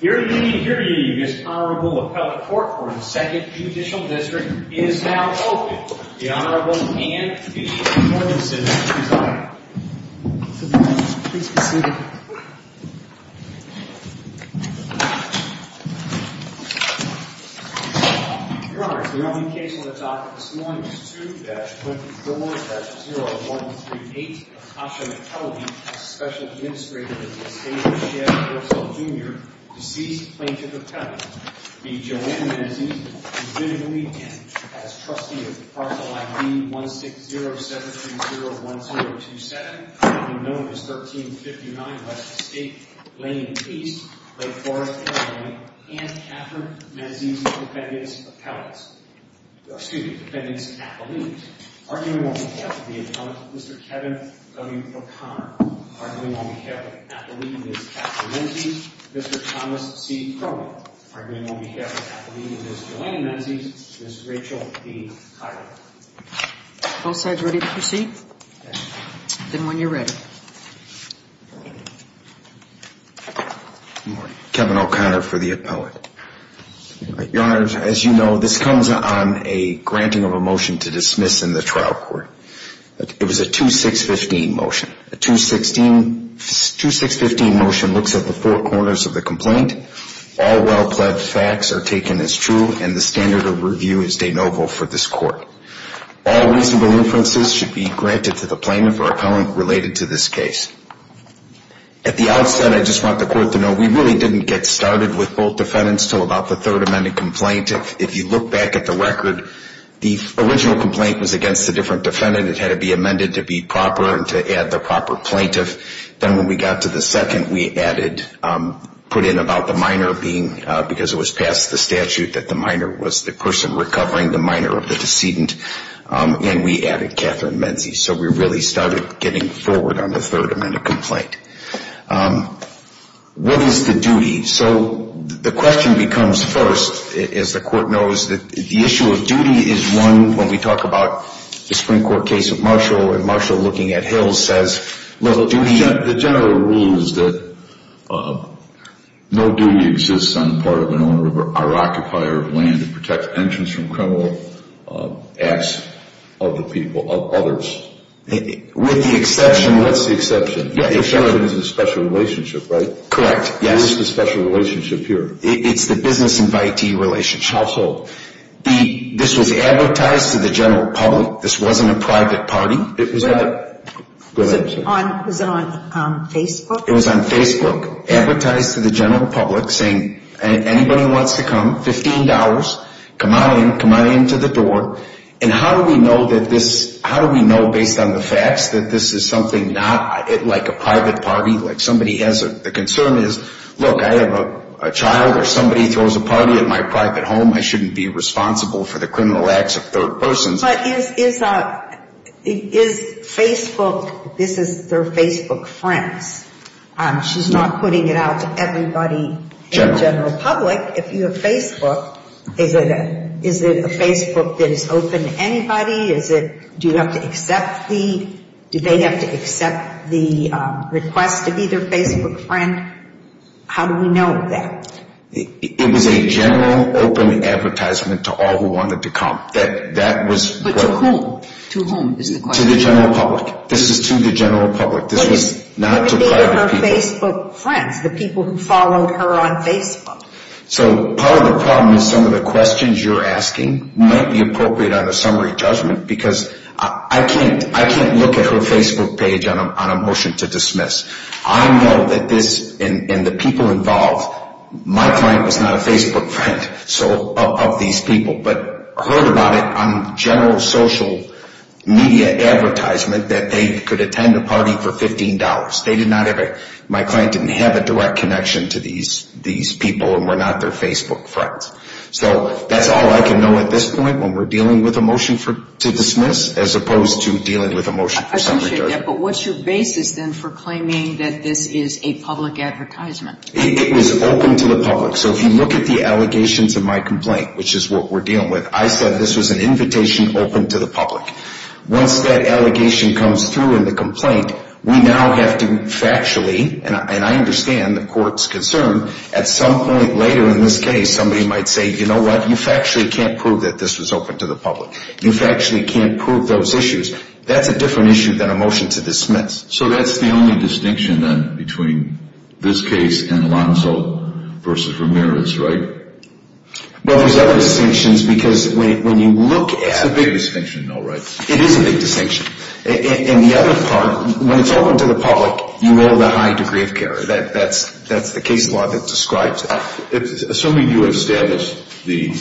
Here to give you this honorable appellate court for the 2nd Judicial District is now open, the Honorable Anne T. Normanson, presiding. Please be seated. Your Honors, the only case on the docket this morning is 2-24-0138 of Tasha McKelvey, a Special Administrator of the estate of Chad Purcell, Jr., deceased Plaintiff Appellant. The Joanne Menzies has been agreed in as trustee of the parcel ID 1607301027, commonly known as 1359 West Estate Lane East, Lake Forest, Illinois. Anne Catherine Menzies is defendant's appellant. Excuse me, defendant's appellant. Arguing on behalf of the appellant, Mr. Kevin W. O'Connor. Arguing on behalf of the appellant, Ms. Catherine McKenzie. Arguing on behalf of the appellant, Mr. Thomas C. Kroger. Arguing on behalf of the appellant, Ms. Joanne Menzies. Ms. Rachel B. Tyler. Both sides ready to proceed? Then when you're ready. Kevin O'Connor for the appellant. Your Honors, as you know, this comes on a granting of a motion to dismiss in the trial court. It was a 2-6-15 motion. A 2-6-15 motion looks at the four corners of the complaint. All well-pledged facts are taken as true, and the standard of review is de novo for this court. All reasonable inferences should be granted to the plaintiff or appellant related to this case. At the outset, I just want the court to know we really didn't get started with both defendants until about the third amended complaint. If you look back at the record, the original complaint was against a different defendant. It had to be amended to be proper and to add the proper plaintiff. Then when we got to the second, we added, put in about the minor being, because it was past the statute, that the minor was the person recovering the minor of the decedent, and we added Catherine Menzies. So we really started getting forward on the third amended complaint. What is the duty? So the question becomes first, as the court knows, that the issue of duty is one when we talk about the Supreme Court case of Marshall, and Marshall looking at Hill says, look, the general rule is that no duty exists on the part of an owner or occupier of land to protect entrance from criminal acts of the people, of others. With the exception. What's the exception? The exception is the special relationship, right? Correct. What is the special relationship here? It's the business invitee relationship. Household. This was advertised to the general public. This wasn't a private party. It was not. Go ahead. Was it on Facebook? It was on Facebook, advertised to the general public, saying anybody who wants to come, $15, come on in, come on in to the door. And how do we know that this, how do we know based on the facts that this is something not, like a private party, like somebody has a, the concern is, look, I have a child or somebody throws a party at my private home, I shouldn't be responsible for the criminal acts of third persons. But is Facebook, this is their Facebook friends. She's not putting it out to everybody in the general public. If you have Facebook, is it a Facebook that is open to anybody? Is it, do you have to accept the, do they have to accept the request to be their Facebook friend? How do we know that? It was a general open advertisement to all who wanted to come. That was. But to whom? To whom is the question? To the general public. This is to the general public. This was not to private people. Who could be her Facebook friends, the people who followed her on Facebook? So part of the problem is some of the questions you're asking might be appropriate on a summary judgment because I can't look at her Facebook page on a motion to dismiss. I know that this, and the people involved, my client was not a Facebook friend of these people, but heard about it on general social media advertisement that they could attend a party for $15. They did not have a, my client didn't have a direct connection to these people and were not their Facebook friends. So that's all I can know at this point when we're dealing with a motion to dismiss as opposed to dealing with a motion for summary judgment. I appreciate that, but what's your basis then for claiming that this is a public advertisement? It was open to the public. So if you look at the allegations in my complaint, which is what we're dealing with, I said this was an invitation open to the public. Once that allegation comes through in the complaint, we now have to factually, and I understand the court's concern, at some point later in this case somebody might say, you know what, you factually can't prove that this was open to the public. You factually can't prove those issues. That's a different issue than a motion to dismiss. So that's the only distinction then between this case and Alonzo versus Ramirez, right? Well, there's other distinctions because when you look at That's a big distinction though, right? It is a big distinction. And the other part, when it's open to the public, you owe the high degree of care. That's the case law that describes it. Assuming you established the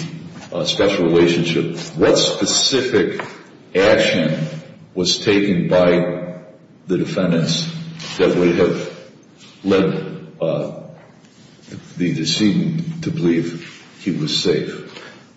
special relationship, what specific action was taken by the defendants that would have led the decedent to believe he was safe?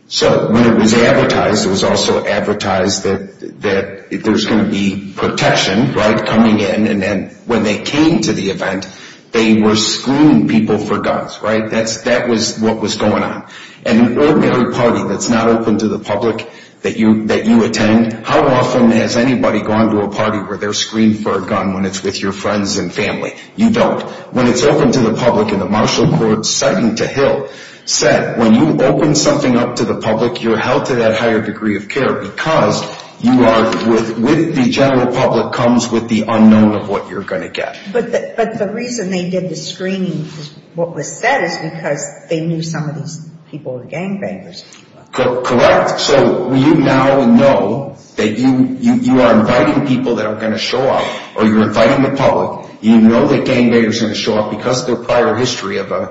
So when it was advertised, it was also advertised that there's going to be protection, right, coming in, and then when they came to the event, they were screening people for guns, right? That was what was going on. And an ordinary party that's not open to the public that you attend, how often has anybody gone to a party where they're screened for a gun when it's with your friends and family? You don't. When it's open to the public and the marshal court citing to Hill said, when you open something up to the public, you're held to that higher degree of care because you are with the general public comes with the unknown of what you're going to get. But the reason they did the screening is what was said is because they knew some of these people were gangbangers. Correct. So you now know that you are inviting people that are going to show up or you're inviting the public. You know that gangbangers are going to show up because their prior history of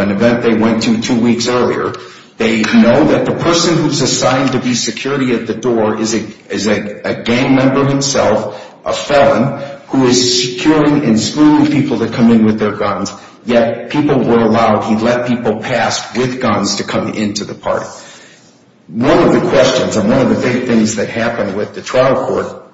an event they went to two weeks earlier. They know that the person who's assigned to be security at the door is a gang member himself, a felon, who is securing and screening people to come in with their guns, yet people were allowed, he let people pass with guns to come into the party. One of the questions and one of the big things that happened with the trial court,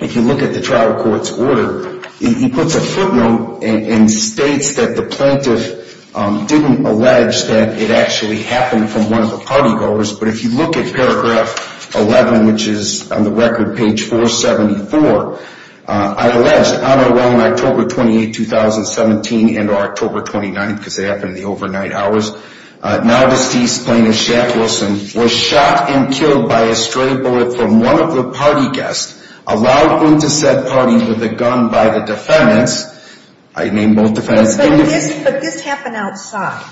if you look at the trial court's order, it puts a footnote and states that the plaintiff didn't allege that it actually happened from one of the party goers. But if you look at paragraph 11, which is on the record, page 474, I allege on or around October 28, 2017 and October 29, because it happened in the overnight hours, now deceased plaintiff Shaq Wilson was shot and killed by a stray bullet from one of the party guests allowed him to set party with a gun by the defendants. I named both defendants. But this happened outside,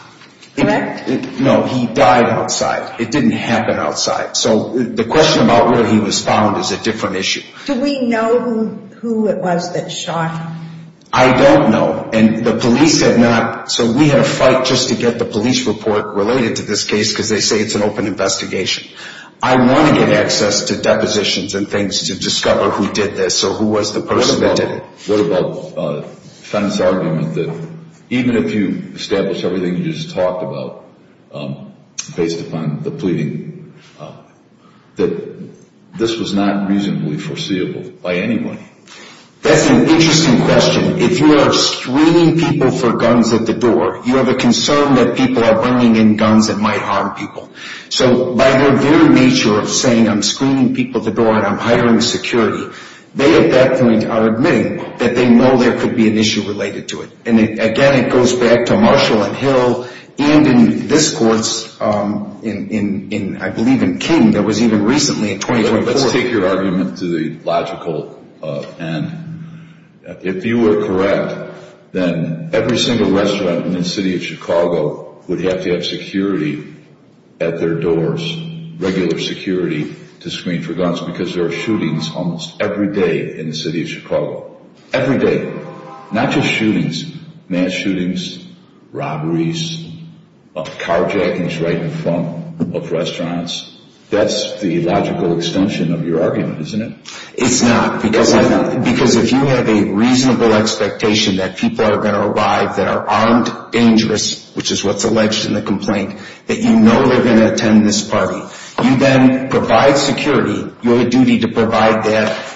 correct? No, he died outside. It didn't happen outside. So the question about where he was found is a different issue. Do we know who it was that shot him? I don't know. And the police have not, so we had a fight just to get the police report related to this case because they say it's an open investigation. I want to get access to depositions and things to discover who did this or who was the person that did it. What about the defendant's argument that even if you establish everything you just talked about based upon the pleading, that this was not reasonably foreseeable by anyone? That's an interesting question. If you are screening people for guns at the door, you have a concern that people are bringing in guns that might harm people. So by their very nature of saying I'm screening people at the door and I'm hiring security, they at that point are admitting that they know there could be an issue related to it. And, again, it goes back to Marshall and Hill and in this court, I believe in King, that was even recently in 2014. Let's take your argument to the logical end. If you were correct, then every single restaurant in the city of Chicago would have to have security at their doors, regular security to screen for guns because there are shootings almost every day in the city of Chicago. Every day. Not just shootings, mass shootings, robberies, carjackings right in front of restaurants. That's the logical extension of your argument, isn't it? It's not. Because if you have a reasonable expectation that people are going to arrive that are armed, dangerous, which is what's alleged in the complaint, that you know they're going to attend this party, you then provide security. You have a duty to provide that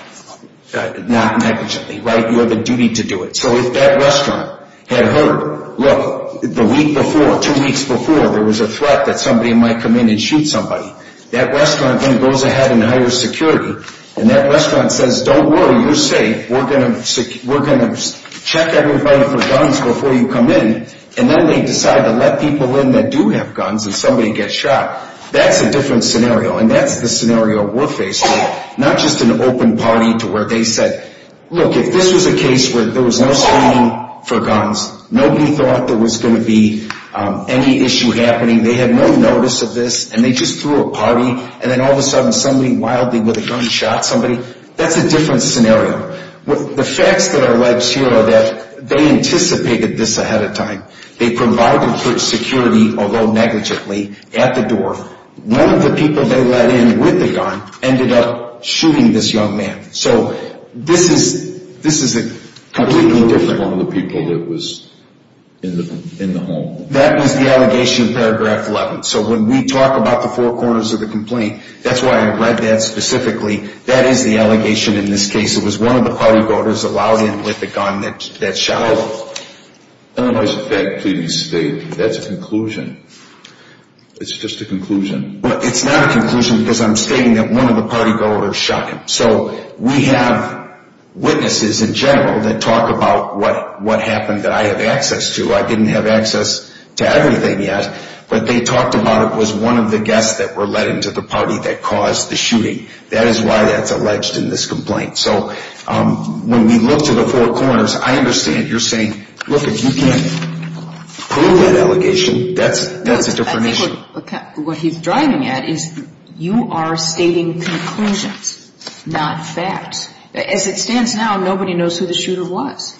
not negligently, right? You have a duty to do it. So if that restaurant had heard, look, the week before, two weeks before, there was a threat that somebody might come in and shoot somebody, that restaurant then goes ahead and hires security, and that restaurant says, don't worry, you're safe, we're going to check everybody for guns before you come in, and then they decide to let people in that do have guns and somebody gets shot, that's a different scenario, and that's the scenario we're facing, not just an open party to where they said, look, if this was a case where there was no screening for guns, nobody thought there was going to be any issue happening, they had no notice of this, and they just threw a party, and then all of a sudden somebody wildly with a gun shot somebody, that's a different scenario. The facts that are alleged here are that they anticipated this ahead of time. They provided for security, although negligently, at the door. One of the people they let in with a gun ended up shooting this young man. So this is a completely different... One of the people that was in the home. That was the allegation in paragraph 11. So when we talk about the four corners of the complaint, that's why I read that specifically, that is the allegation in this case. It was one of the party voters allowed in with a gun that shot him. Otherwise, if that can be stated, that's a conclusion. It's just a conclusion. It's not a conclusion because I'm stating that one of the party voters shot him. So we have witnesses in general that talk about what happened that I have access to. I didn't have access to everything yet, but they talked about it was one of the guests that were let in to the party that caused the shooting. That is why that's alleged in this complaint. So when we look to the four corners, I understand you're saying, look, if you can't prove that allegation, that's a different issue. What he's driving at is you are stating conclusions, not facts. As it stands now, nobody knows who the shooter was.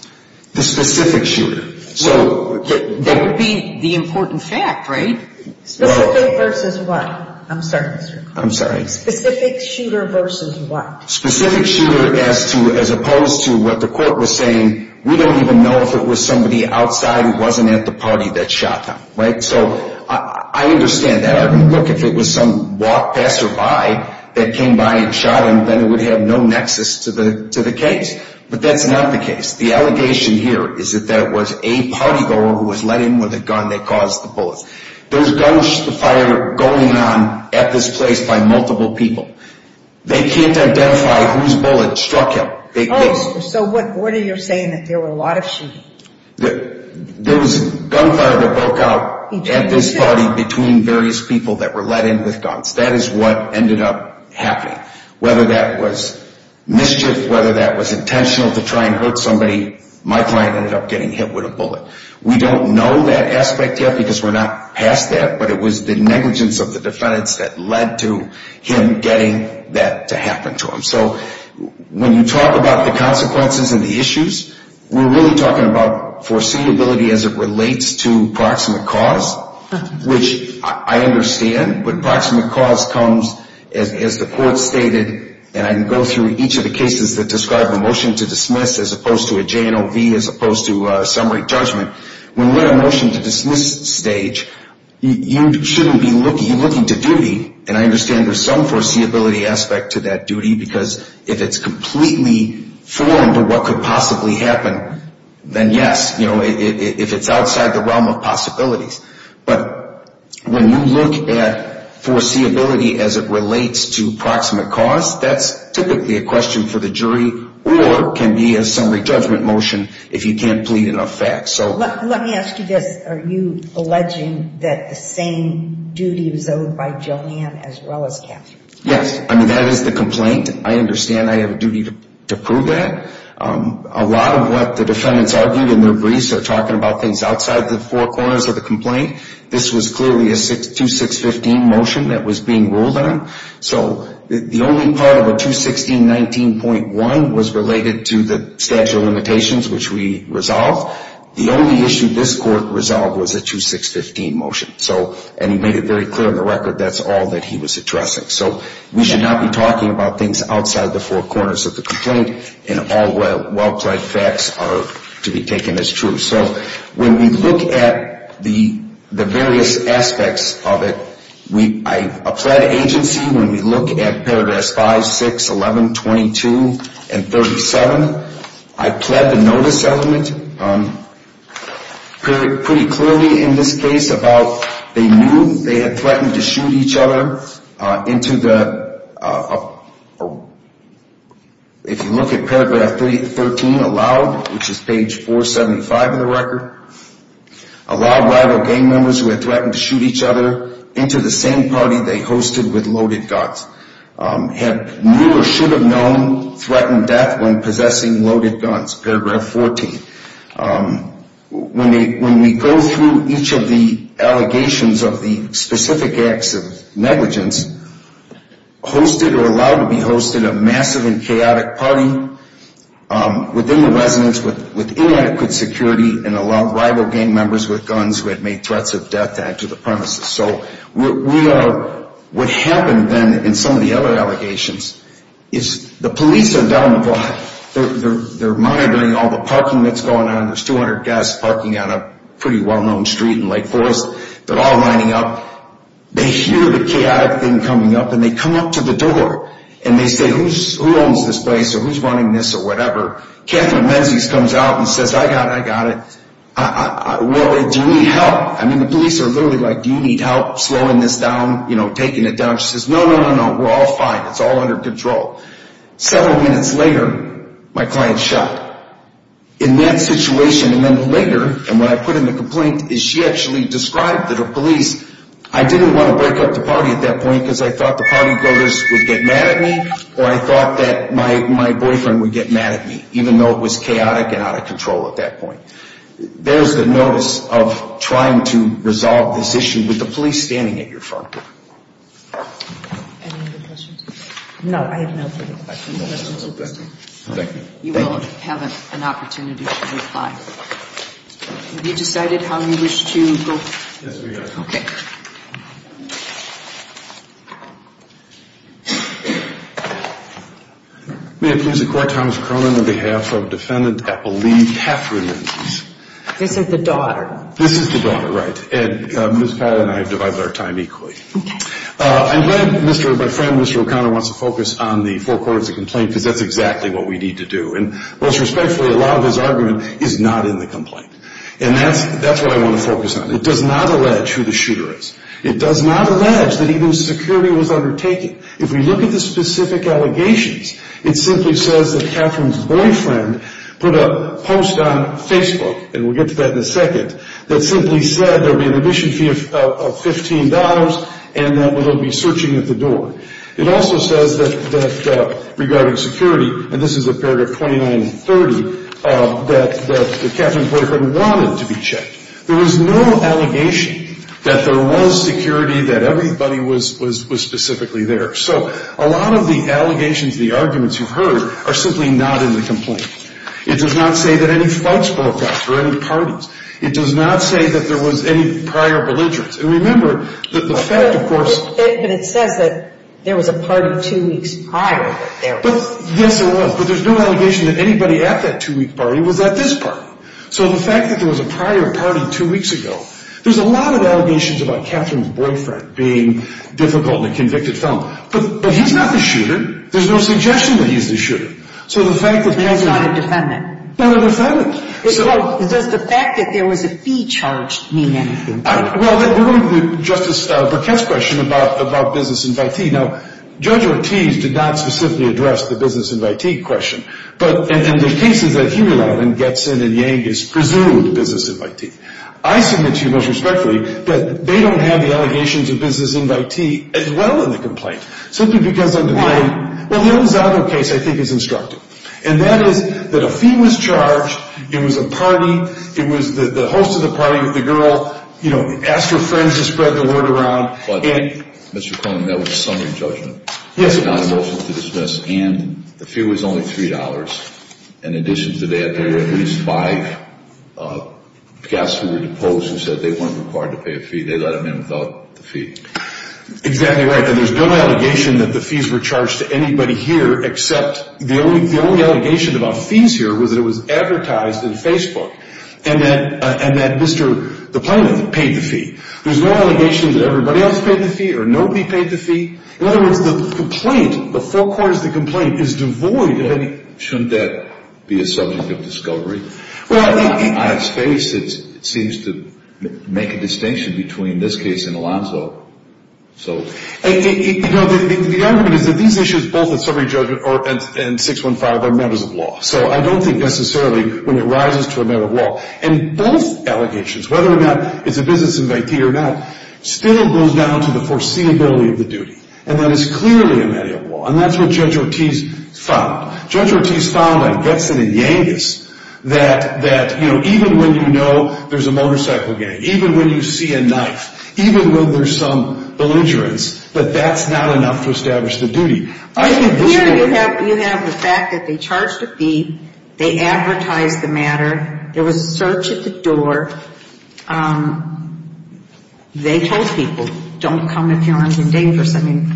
The specific shooter. That would be the important fact, right? Specific versus what? I'm sorry. I'm sorry. Specific shooter versus what? Specific shooter as opposed to what the court was saying. We don't even know if it was somebody outside who wasn't at the party that shot him, right? So I understand that. Look, if it was some passerby that came by and shot him, then it would have no nexus to the case. But that's not the case. The allegation here is that that was a party voter who was let in with a gun that caused the bullets. There was gunfire going on at this place by multiple people. They can't identify whose bullet struck him. So what you're saying is there was a lot of shooting? There was gunfire that broke out at this party between various people that were let in with guns. That is what ended up happening. Whether that was mischief, whether that was intentional to try and hurt somebody, my client ended up getting hit with a bullet. We don't know that aspect yet because we're not past that, but it was the negligence of the defendants that led to him getting that to happen to him. So when you talk about the consequences and the issues, we're really talking about foreseeability as it relates to proximate cause, which I understand. But proximate cause comes, as the court stated, and I can go through each of the cases that describe a motion to dismiss as opposed to a J&OV as opposed to summary judgment. When you're at a motion to dismiss stage, you shouldn't be looking to duty, and I understand there's some foreseeability aspect to that duty because if it's completely foreign to what could possibly happen, then yes, if it's outside the realm of possibilities. But when you look at foreseeability as it relates to proximate cause, that's typically a question for the jury or can be a summary judgment motion if you can't plead enough facts. Let me ask you this. Are you alleging that the same duty was owed by Joanne as well as Catherine? Yes. I mean, that is the complaint. I understand I have a duty to prove that. A lot of what the defendants argued in their briefs are talking about things outside the four corners of the complaint. This was clearly a 2-6-15 motion that was being ruled on. So the only part of a 2-16-19.1 was related to the statute of limitations, which we resolved. The only issue this court resolved was a 2-6-15 motion, and he made it very clear in the record that's all that he was addressing. So we should not be talking about things outside the four corners of the complaint, and all well-plaid facts are to be taken as true. So when we look at the various aspects of it, a plead agency, when we look at paragraphs 5, 6, 11, 22, and 37, I plead the notice element pretty clearly in this case about they knew they had threatened to shoot each other into the, if you look at paragraph 13 aloud, which is page 475 of the record, allowed rival gang members who had threatened to shoot each other into the same party they hosted with loaded guns, had knew or should have known threatened death when possessing loaded guns, paragraph 14. When we go through each of the allegations of the specific acts of negligence, hosted or allowed to be hosted a massive and chaotic party within the residence with inadequate security and allowed rival gang members with guns who had made threats of death to enter the premises. So what happened then in some of the other allegations is the police are down the block. They're monitoring all the parking that's going on. There's 200 guests parking on a pretty well-known street in Lake Forest. They're all lining up. They hear the chaotic thing coming up, and they come up to the door, and they say, who owns this place or who's running this or whatever? Catherine Menzies comes out and says, I got it, I got it. Do you need help? I mean, the police are literally like, do you need help slowing this down, you know, taking it down? She says, no, no, no, no, we're all fine. It's all under control. Several minutes later, my client shot. In that situation and then later, and when I put in the complaint, she actually described to the police, I didn't want to break up the party at that point because I thought the party voters would get mad at me or I thought that my boyfriend would get mad at me, even though it was chaotic and out of control at that point. There's the notice of trying to resolve this issue with the police standing at your front door. Any other questions? No, I have no further questions. No questions at this time. Thank you. You will have an opportunity to reply. Have you decided how you wish to go? Yes, we have. Okay. May it please the Court, Thomas Cronin on behalf of Defendant Epple Lee Catherine Menzies. This is the daughter. This is the daughter, right, and Ms. Pat and I have divided our time equally. Okay. I'm glad my friend, Mr. O'Connor, wants to focus on the four quarters of the complaint because that's exactly what we need to do, and most respectfully, a lot of his argument is not in the complaint, and that's what I want to focus on. It does not allege who the shooter is. It does not allege that even security was undertaken. If we look at the specific allegations, it simply says that Catherine's boyfriend put a post on Facebook, and we'll get to that in a second, that simply said there would be an admission fee of $15, and that they'll be searching at the door. It also says that regarding security, and this is a paragraph 29 and 30, that Catherine's boyfriend wanted to be checked. There was no allegation that there was security, that everybody was specifically there. So a lot of the allegations, the arguments you've heard, are simply not in the complaint. It does not say that any fights broke out or any parties. It does not say that there was any prior belligerence. And remember that the fact, of course— But it says that there was a party two weeks prior that there was. Yes, there was, but there's no allegation that anybody at that two-week party was at this party. So the fact that there was a prior party two weeks ago, there's a lot of allegations about Catherine's boyfriend being difficult and a convicted felon, but he's not the shooter. There's no suggestion that he's the shooter. So the fact that— He's not a defendant. Not a defendant. So does the fact that there was a fee charged mean anything? Well, that brings me to Justice Burkett's question about business invitee. Now, Judge Ortiz did not specifically address the business invitee question, but in the cases that Huland gets in and Yang is presumed business invitee. I submit to you most respectfully that they don't have the allegations of business invitee as well in the complaint, simply because— Well, the Elizondo case, I think, is instructive. And that is that a fee was charged. It was a party. It was the host of the party with the girl. You know, asked her friends to spread the word around. But, Mr. Cronin, that was a summary judgment. Yes, it was. It was not a motion to dismiss, and the fee was only $3. In addition to that, there were at least five guests who were deposed who said they weren't required to pay a fee. They let them in without the fee. Exactly right. And there's no allegation that the fees were charged to anybody here, except the only allegation about fees here was that it was advertised in Facebook, and that Mr. DiPlano paid the fee. There's no allegation that everybody else paid the fee or nobody paid the fee. In other words, the complaint, the four corners of the complaint, is devoid of any— Shouldn't that be a subject of discovery? Well, I think— On its face, it seems to make a distinction between this case and Alonzo. You know, the argument is that these issues, both the summary judgment and 615, are matters of law. So I don't think necessarily when it rises to a matter of law. And both allegations, whether or not it's a business invitee or not, still goes down to the foreseeability of the duty. And that is clearly a matter of law. And that's what Judge Ortiz found. Judge Ortiz found, I guess in a Yankees, that even when you know there's a motorcycle gang, even when you see a knife, even when there's some belligerence, that that's not enough to establish the duty. Here you have the fact that they charged a fee. They advertised the matter. There was a search at the door. They told people, don't come if you're under dangerous. I mean,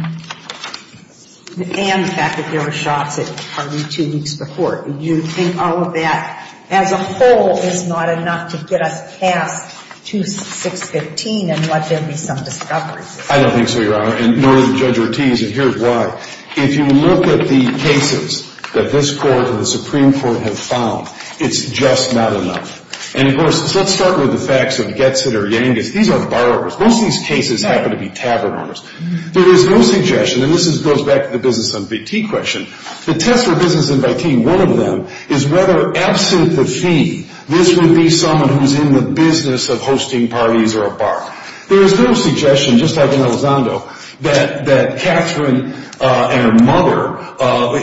and the fact that there were shots at the party two weeks before. You think all of that as a whole is not enough to get us past 2615 and let there be some discoveries. I don't think so, Your Honor. And nor does Judge Ortiz. And here's why. If you look at the cases that this Court and the Supreme Court have found, it's just not enough. And, of course, let's start with the facts of Getzit or Yankees. These are borrowers. Most of these cases happen to be tavern owners. There is no suggestion, and this goes back to the business invitee question. The test for business invitee, one of them, is whether, absent the fee, this would be someone who's in the business of hosting parties or a bar. There is no suggestion, just like in Elizondo, that Catherine and her mother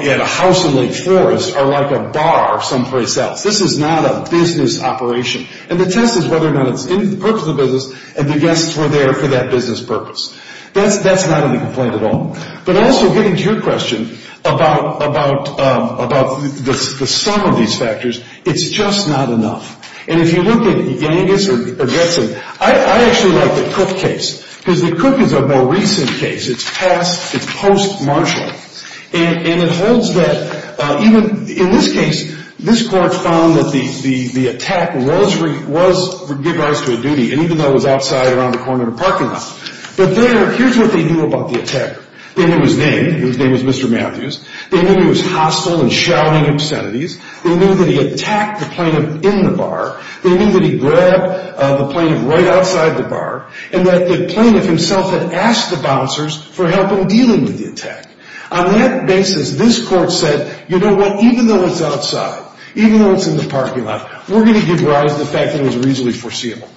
at a house in Lake Forest are like a bar someplace else. This is not a business operation. And the test is whether or not it's in the purpose of the business, and the guests were there for that business purpose. That's not in the complaint at all. But also getting to your question about the sum of these factors, it's just not enough. And if you look at Yankees or Getzit, I actually like the Cook case, because the Cook is a more recent case. It's past, it's post-Marshall. And it holds that even, in this case, this Court found that the attack was, would give rise to a duty, and even though it was outside around a corner in a parking lot. But there, here's what they knew about the attack. They knew his name, his name was Mr. Matthews. They knew he was hostile and shouting obscenities. They knew that he attacked the plaintiff in the bar. They knew that he grabbed the plaintiff right outside the bar. And that the plaintiff himself had asked the bouncers for help in dealing with the attack. On that basis, this Court said, you know what, even though it's outside, even though it's in the parking lot, we're going to give rise to the fact that it was reasonably foreseeable.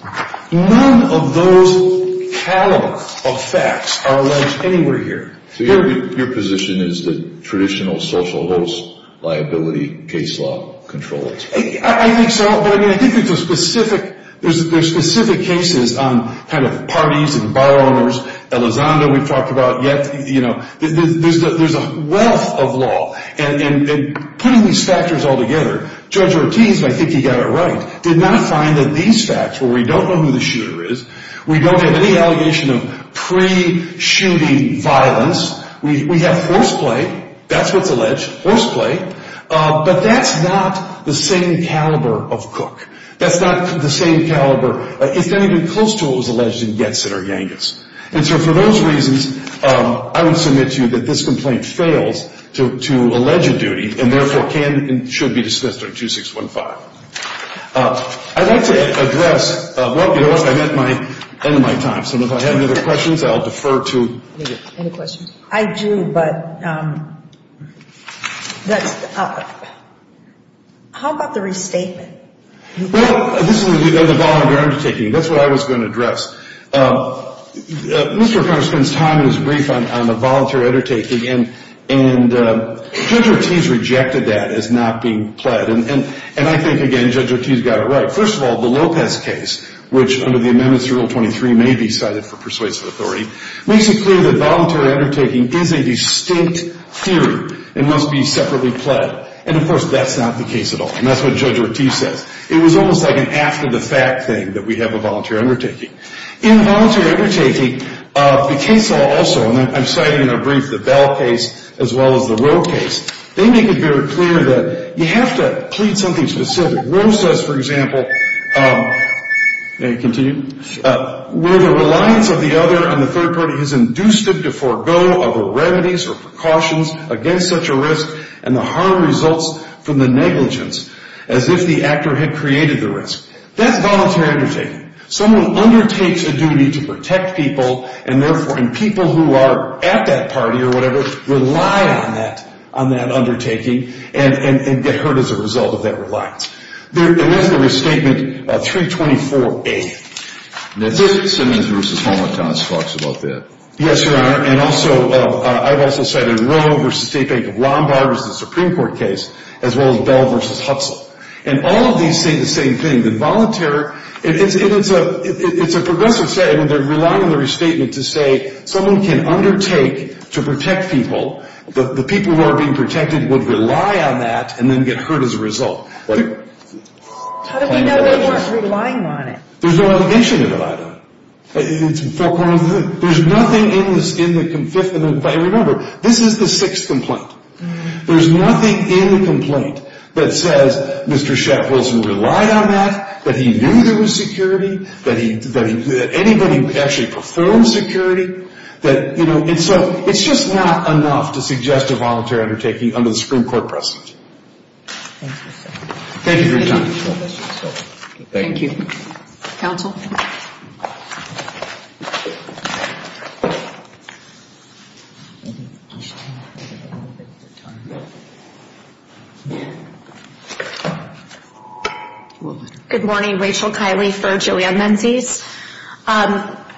None of those calibers of facts are alleged anywhere here. So your position is that traditional social host liability case law controls. I think so, but I mean, I think there's a specific, there's specific cases on kind of parties and bar owners. Elizondo we've talked about yet. You know, there's a wealth of law. And putting these factors all together, Judge Ortiz, I think he got it right, did not find that these facts where we don't know who the shooter is, we don't have any allegation of pre-shooting violence. We have force play. That's what's alleged, force play. But that's not the same caliber of cook. That's not the same caliber. It's not even close to what was alleged in Getz and Ergangas. And so for those reasons, I would submit to you that this complaint fails to allege a duty and therefore can and should be dismissed under 2615. I'd like to address, well, you know what, I'm at the end of my time. So if I have any other questions, I'll defer to you. Any questions? I do, but that's, how about the restatement? Well, this is the voluntary undertaking. That's what I was going to address. Mr. O'Connor spends time in his brief on the voluntary undertaking, and Judge Ortiz rejected that as not being pled. And I think, again, Judge Ortiz got it right. First of all, the Lopez case, which under the amendments to Rule 23 may be cited for persuasive authority, makes it clear that voluntary undertaking is a distinct theory and must be separately pled. And, of course, that's not the case at all, and that's what Judge Ortiz says. It was almost like an after-the-fact thing that we have a voluntary undertaking. In voluntary undertaking, the case also, and I'm citing in our brief the Bell case as well as the Rowe case, they make it very clear that you have to plead something specific. Rowe says, for example, may I continue, where the reliance of the other and the third party has induced them to forego other remedies or precautions against such a risk and the harm results from the negligence, as if the actor had created the risk. That's voluntary undertaking. Someone undertakes a duty to protect people, and therefore people who are at that party or whatever rely on that undertaking and get hurt as a result of that reliance. And that's the restatement of 324A. Now, this is Simmons v. Homentos talks about that. Yes, Your Honor, and I've also cited Rowe v. State Bank of Lombard as the Supreme Court case, as well as Bell v. Hutzel. And all of these say the same thing. It's a progressive statement. They're relying on the restatement to say someone can undertake to protect people. The people who are being protected would rely on that and then get hurt as a result. How do we know they weren't relying on it? There's no allegation to rely on. There's nothing in the fifth amendment. Remember, this is the sixth complaint. There's nothing in the complaint that says Mr. Shep Wilson relied on that, that he knew there was security, that anybody actually performed security. And so it's just not enough to suggest a voluntary undertaking under the Supreme Court precedent. Thank you for your time. Thank you. Counsel? Good morning. Rachel Kiley for Julian Menzies.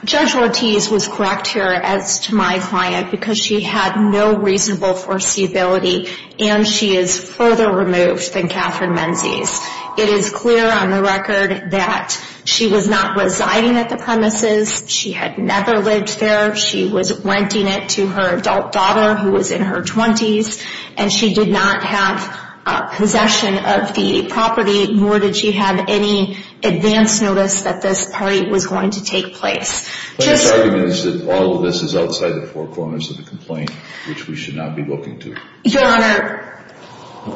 Judge Ortiz was correct here as to my client because she had no reasonable foreseeability and she is further removed than Katherine Menzies. It is clear on the record that she was not residing at the premises. She had never lived there. She was renting it to her adult daughter who was in her 20s, and she did not have possession of the property nor did she have any advance notice that this party was going to take place. But this argument is that all of this is outside the four corners of the complaint, which we should not be looking to. Your Honor,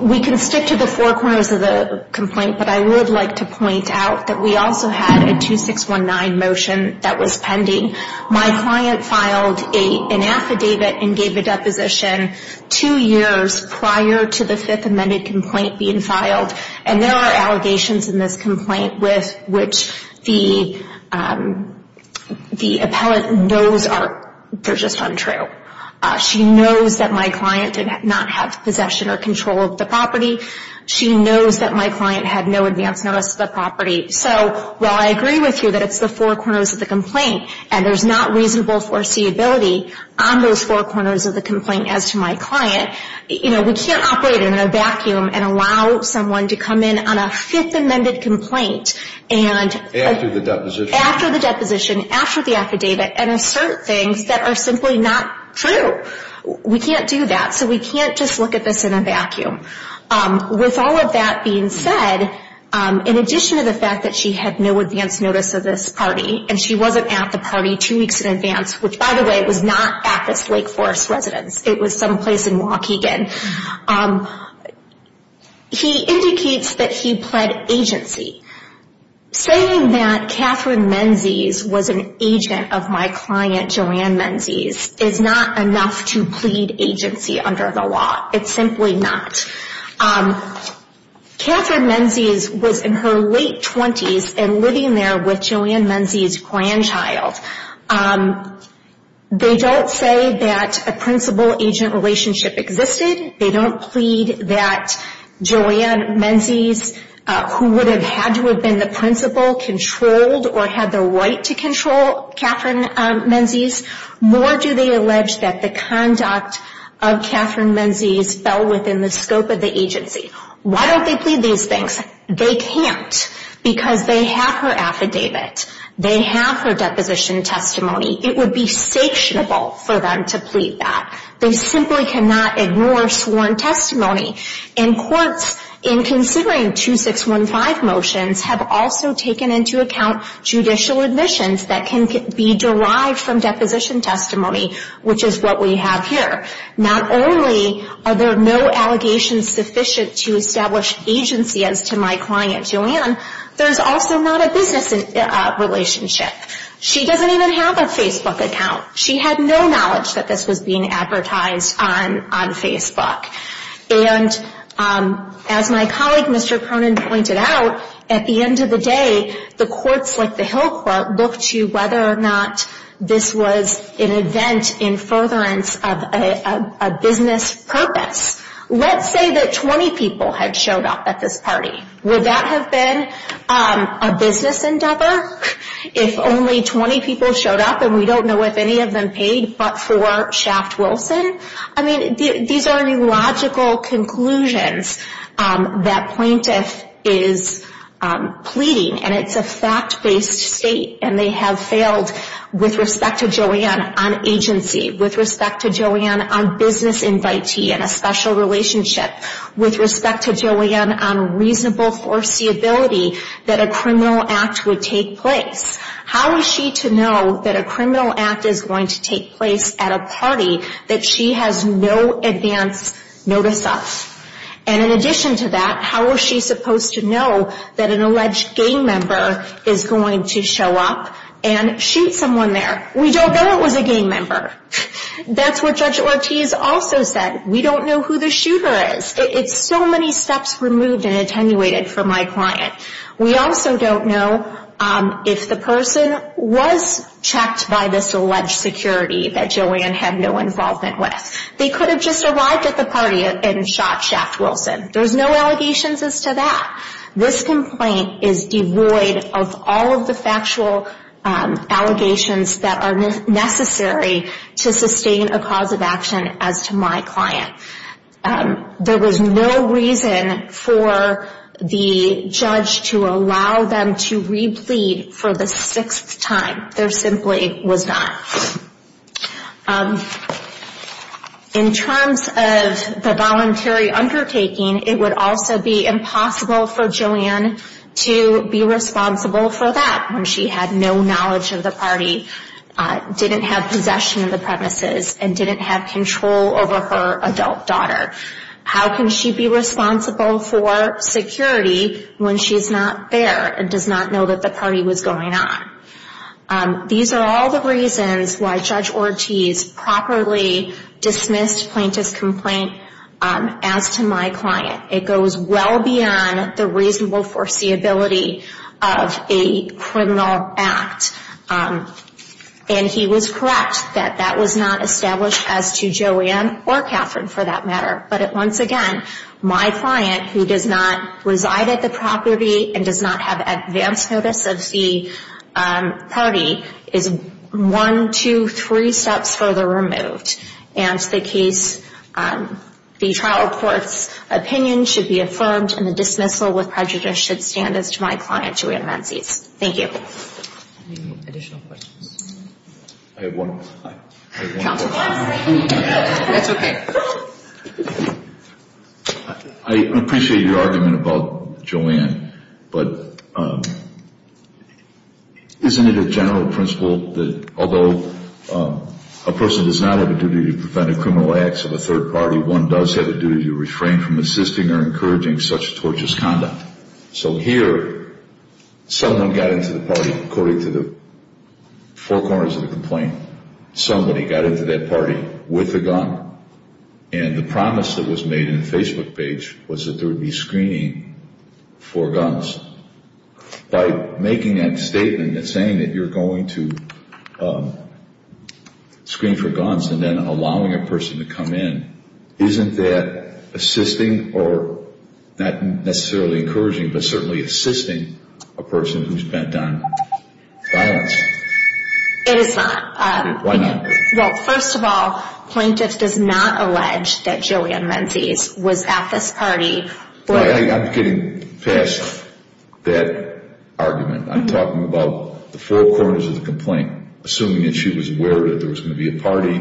we can stick to the four corners of the complaint, but I would like to point out that we also had a 2619 motion that was pending. My client filed an affidavit and gave a deposition two years prior to the fifth amended complaint being filed, and there are allegations in this complaint with which the appellant knows they're just untrue. She knows that my client did not have possession or control of the property. She knows that my client had no advance notice of the property. So while I agree with you that it's the four corners of the complaint and there's not reasonable foreseeability on those four corners of the complaint as to my client, we can't operate in a vacuum and allow someone to come in on a fifth amended complaint. After the deposition? After the deposition, after the affidavit, and assert things that are simply not true. We can't do that, so we can't just look at this in a vacuum. With all of that being said, in addition to the fact that she had no advance notice of this party and she wasn't at the party two weeks in advance, which, by the way, was not at this Lake Forest residence. It was someplace in Waukegan. He indicates that he pled agency. Saying that Catherine Menzies was an agent of my client Joanne Menzies is not enough to plead agency under the law. It's simply not. Catherine Menzies was in her late 20s and living there with Joanne Menzies' grandchild. They don't say that a principal-agent relationship existed. They don't plead that Joanne Menzies, who would have had to have been the principal, controlled or had the right to control Catherine Menzies. More do they allege that the conduct of Catherine Menzies fell within the scope of the agency. Why don't they plead these things? They can't because they have her affidavit. They have her deposition testimony. It would be sanctionable for them to plead that. They simply cannot ignore sworn testimony. And courts, in considering 2615 motions, have also taken into account judicial admissions that can be derived from deposition testimony, which is what we have here. Not only are there no allegations sufficient to establish agency as to my client Joanne, there's also not a business relationship. She doesn't even have a Facebook account. She had no knowledge that this was being advertised on Facebook. And as my colleague, Mr. Cronin, pointed out, at the end of the day, the courts like the Hill Court look to whether or not this was an event in furtherance of a business purpose. Let's say that 20 people had showed up at this party. Would that have been a business endeavor if only 20 people showed up and we don't know if any of them paid but for Shaft Wilson? I mean, these are illogical conclusions that plaintiff is pleading. And it's a fact-based state. And they have failed with respect to Joanne on agency, with respect to Joanne on business invitee and a special relationship, with respect to Joanne on reasonable foreseeability that a criminal act would take place. How is she to know that a criminal act is going to take place at a party that she has no advance notice of? And in addition to that, how is she supposed to know that an alleged gang member is going to show up and shoot someone there? We don't know it was a gang member. That's what Judge Ortiz also said. We don't know who the shooter is. It's so many steps removed and attenuated for my client. We also don't know if the person was checked by this alleged security that Joanne had no involvement with. They could have just arrived at the party and shot Shaft Wilson. There's no allegations as to that. This complaint is devoid of all of the factual allegations that are necessary to sustain a cause of action as to my client. There was no reason for the judge to allow them to replead for the sixth time. There simply was not. In terms of the voluntary undertaking, it would also be impossible for Joanne to be responsible for that when she had no knowledge of the party, didn't have possession of the premises, and didn't have control over her adult daughter. How can she be responsible for security when she's not there and does not know that the party was going on? These are all the reasons why Judge Ortiz properly dismissed Plaintiff's Complaint as to my client. It goes well beyond the reasonable foreseeability of a criminal act. He was correct that that was not established as to Joanne or Catherine for that matter. Once again, my client, who does not reside at the property and does not have advance notice of the party, is one, two, three steps further removed. The trial court's opinion should be affirmed, and the dismissal with prejudice should stand as to my client, Joanne Menzies. Thank you. I appreciate your argument about Joanne, but isn't it a general principle that although a person does not have a duty to prevent a criminal act of a third party, one does have a duty to refrain from assisting or encouraging such torturous conduct? So here, someone got into the party according to the four corners of the complaint. Somebody got into that party with a gun, and the promise that was made in the Facebook page was that there would be screening for guns. By making that statement and saying that you're going to screen for guns and then allowing a person to come in, isn't that assisting or not necessarily encouraging, but certainly assisting a person who's bent on violence? It is not. Why not? Well, first of all, plaintiff does not allege that Joanne Menzies was at this party. I'm getting past that argument. I'm talking about the four corners of the complaint, assuming that she was aware that there was going to be a party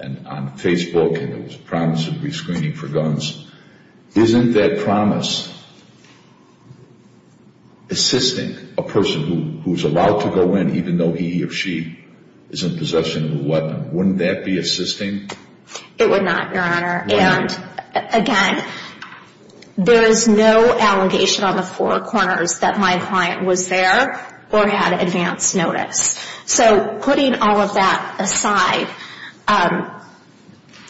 on Facebook and there was a promise of re-screening for guns. Isn't that promise assisting a person who's allowed to go in even though he or she is in possession of a weapon? Wouldn't that be assisting? It would not, Your Honor. Why not? And again, there is no allegation on the four corners that my client was there or had advance notice. So putting all of that aside,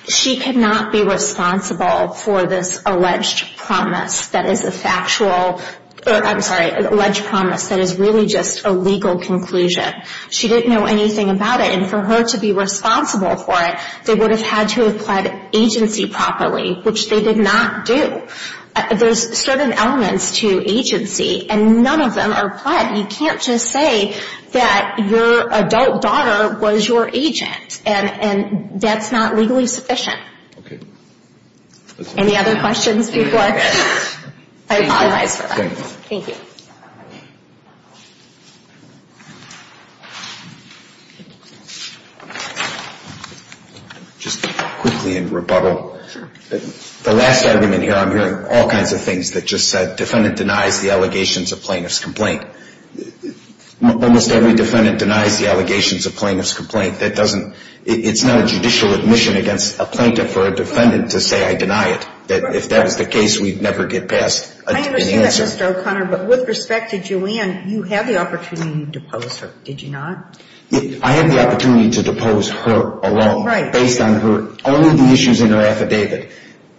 she could not be responsible for this alleged promise that is a factual, I'm sorry, alleged promise that is really just a legal conclusion. She didn't know anything about it, and for her to be responsible for it, they would have had to have pled agency properly, which they did not do. There's certain elements to agency, and none of them are pled. You can't just say that your adult daughter was your agent, and that's not legally sufficient. Any other questions before I apologize for that? Thank you. Just quickly in rebuttal, the last argument here, I'm hearing all kinds of things that just said, well, almost every defendant denies the allegations of plaintiff's complaint. Almost every defendant denies the allegations of plaintiff's complaint. That doesn't, it's not a judicial admission against a plaintiff or a defendant to say I deny it. If that was the case, we'd never get past. I understand that, Mr. O'Connor, but with respect to Joanne, you had the opportunity to depose her, did you not? I had the opportunity to depose her alone. Right. Based on her, only the issues in her affidavit.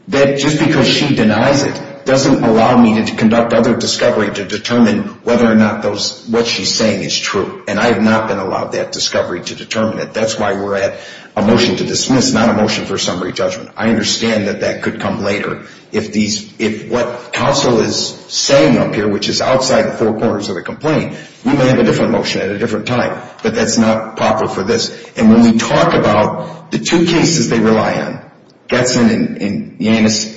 Just because she denies it doesn't allow me to conduct other discovery to determine whether or not what she's saying is true, and I have not been allowed that discovery to determine it. That's why we're at a motion to dismiss, not a motion for summary judgment. I understand that that could come later. If what counsel is saying up here, which is outside the four corners of a complaint, we may have a different motion at a different time, but that's not proper for this. And when we talk about the two cases they rely on, Getson and Yanis,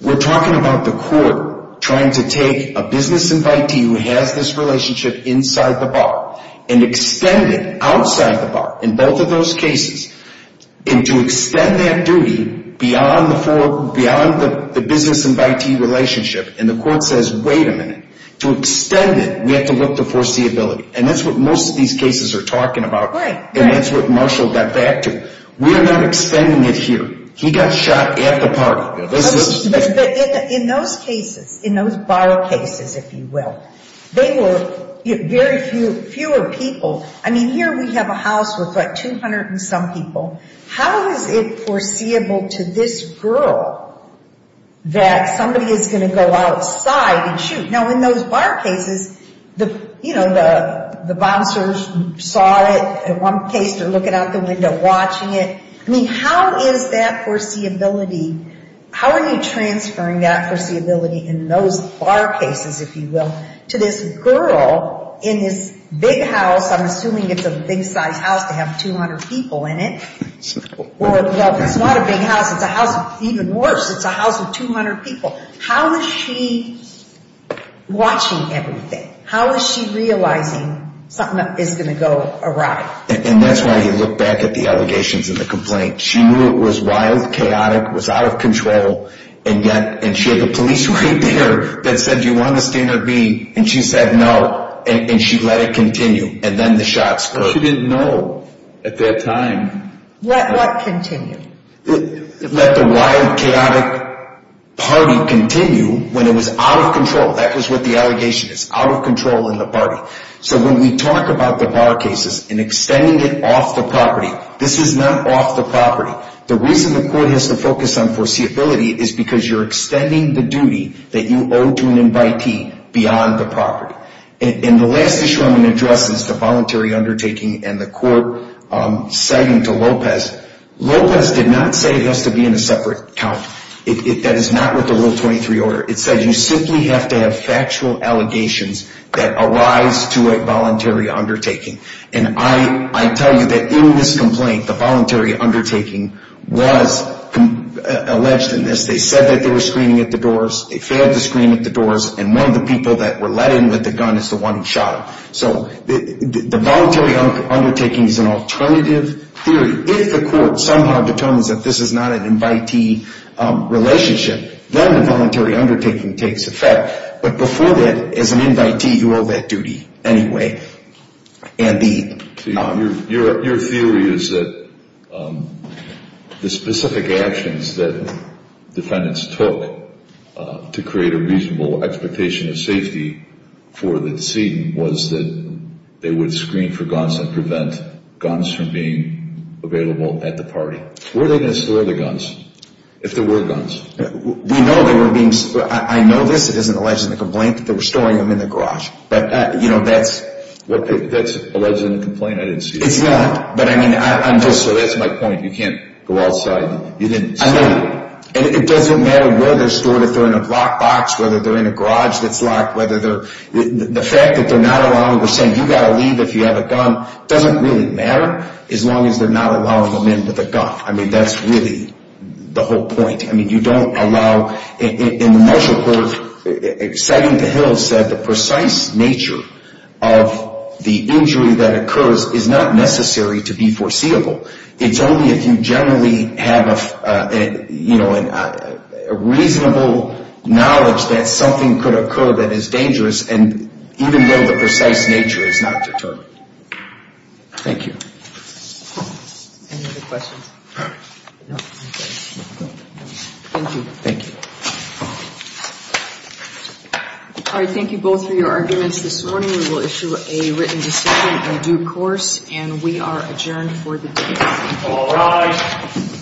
we're talking about the court trying to take a business invitee who has this relationship inside the bar and extend it outside the bar in both of those cases, and to extend that duty beyond the business invitee relationship, and the court says, wait a minute, to extend it, we have to look to foreseeability. And that's what most of these cases are talking about. And that's what Marshall got back to. We're not extending it here. He got shot at the party. But in those cases, in those bar cases, if you will, they were very few, fewer people. I mean, here we have a house with, like, 200 and some people. How is it foreseeable to this girl that somebody is going to go outside and shoot? Now, in those bar cases, you know, the bouncer saw it. In one case they're looking out the window watching it. I mean, how is that foreseeability, how are you transferring that foreseeability in those bar cases, if you will, to this girl in this big house, I'm assuming it's a big-sized house to have 200 people in it. Well, it's not a big house. It's a house, even worse, it's a house with 200 people. How is she watching everything? How is she realizing something is going to go awry? And that's why he looked back at the allegations and the complaints. She knew it was wild, chaotic, was out of control, and yet, and she had the police right there that said, do you want to stand or be? And she said no, and she let it continue. And then the shots clicked. She didn't know at that time. Let what continue? Let the wild, chaotic party continue when it was out of control. That was what the allegation is, out of control in the party. So when we talk about the bar cases and extending it off the property, this is not off the property. The reason the court has to focus on foreseeability is because you're extending the duty that you owe to an invitee beyond the property. And the last issue I'm going to address is the voluntary undertaking and the court citing to Lopez. Lopez did not say it has to be in a separate count. That is not what the Rule 23 order. It says you simply have to have factual allegations that arise to a voluntary undertaking. And I tell you that in this complaint, the voluntary undertaking was alleged in this. They said that they were screening at the doors. They failed to screen at the doors, and one of the people that were let in with the gun is the one who shot him. So the voluntary undertaking is an alternative theory. If the court somehow determines that this is not an invitee relationship, then the voluntary undertaking takes effect. But before that, as an invitee, you owe that duty anyway. Your theory is that the specific actions that defendants took to create a reasonable expectation of safety for the decedent was that they would screen for guns and prevent guns from being available at the party. Were they going to store the guns if there were guns? We know they were being stored. I know this. It isn't alleged in the complaint that they were storing them in the garage. But, you know, that's alleged in the complaint. I didn't see that. It's not. But, I mean, I'm just – so that's my point. You can't go outside. You didn't store them. I know. And it doesn't matter where they're stored, if they're in a locked box, whether they're in a garage that's locked, whether they're – the fact that they're not allowing – we're saying you've got to leave if you have a gun. It doesn't really matter as long as they're not allowing them in with a gun. I mean, that's really the whole point. I mean, you don't allow – in the Marshall Court, Sidington Hill said the precise nature of the injury that occurs is not necessary to be foreseeable. It's only if you generally have, you know, a reasonable knowledge that something could occur that is dangerous, and even though the precise nature is not determined. Thank you. Any other questions? Thank you. Thank you. All right, thank you both for your arguments this morning. We will issue a written decision in due course, and we are adjourned for the day. All rise.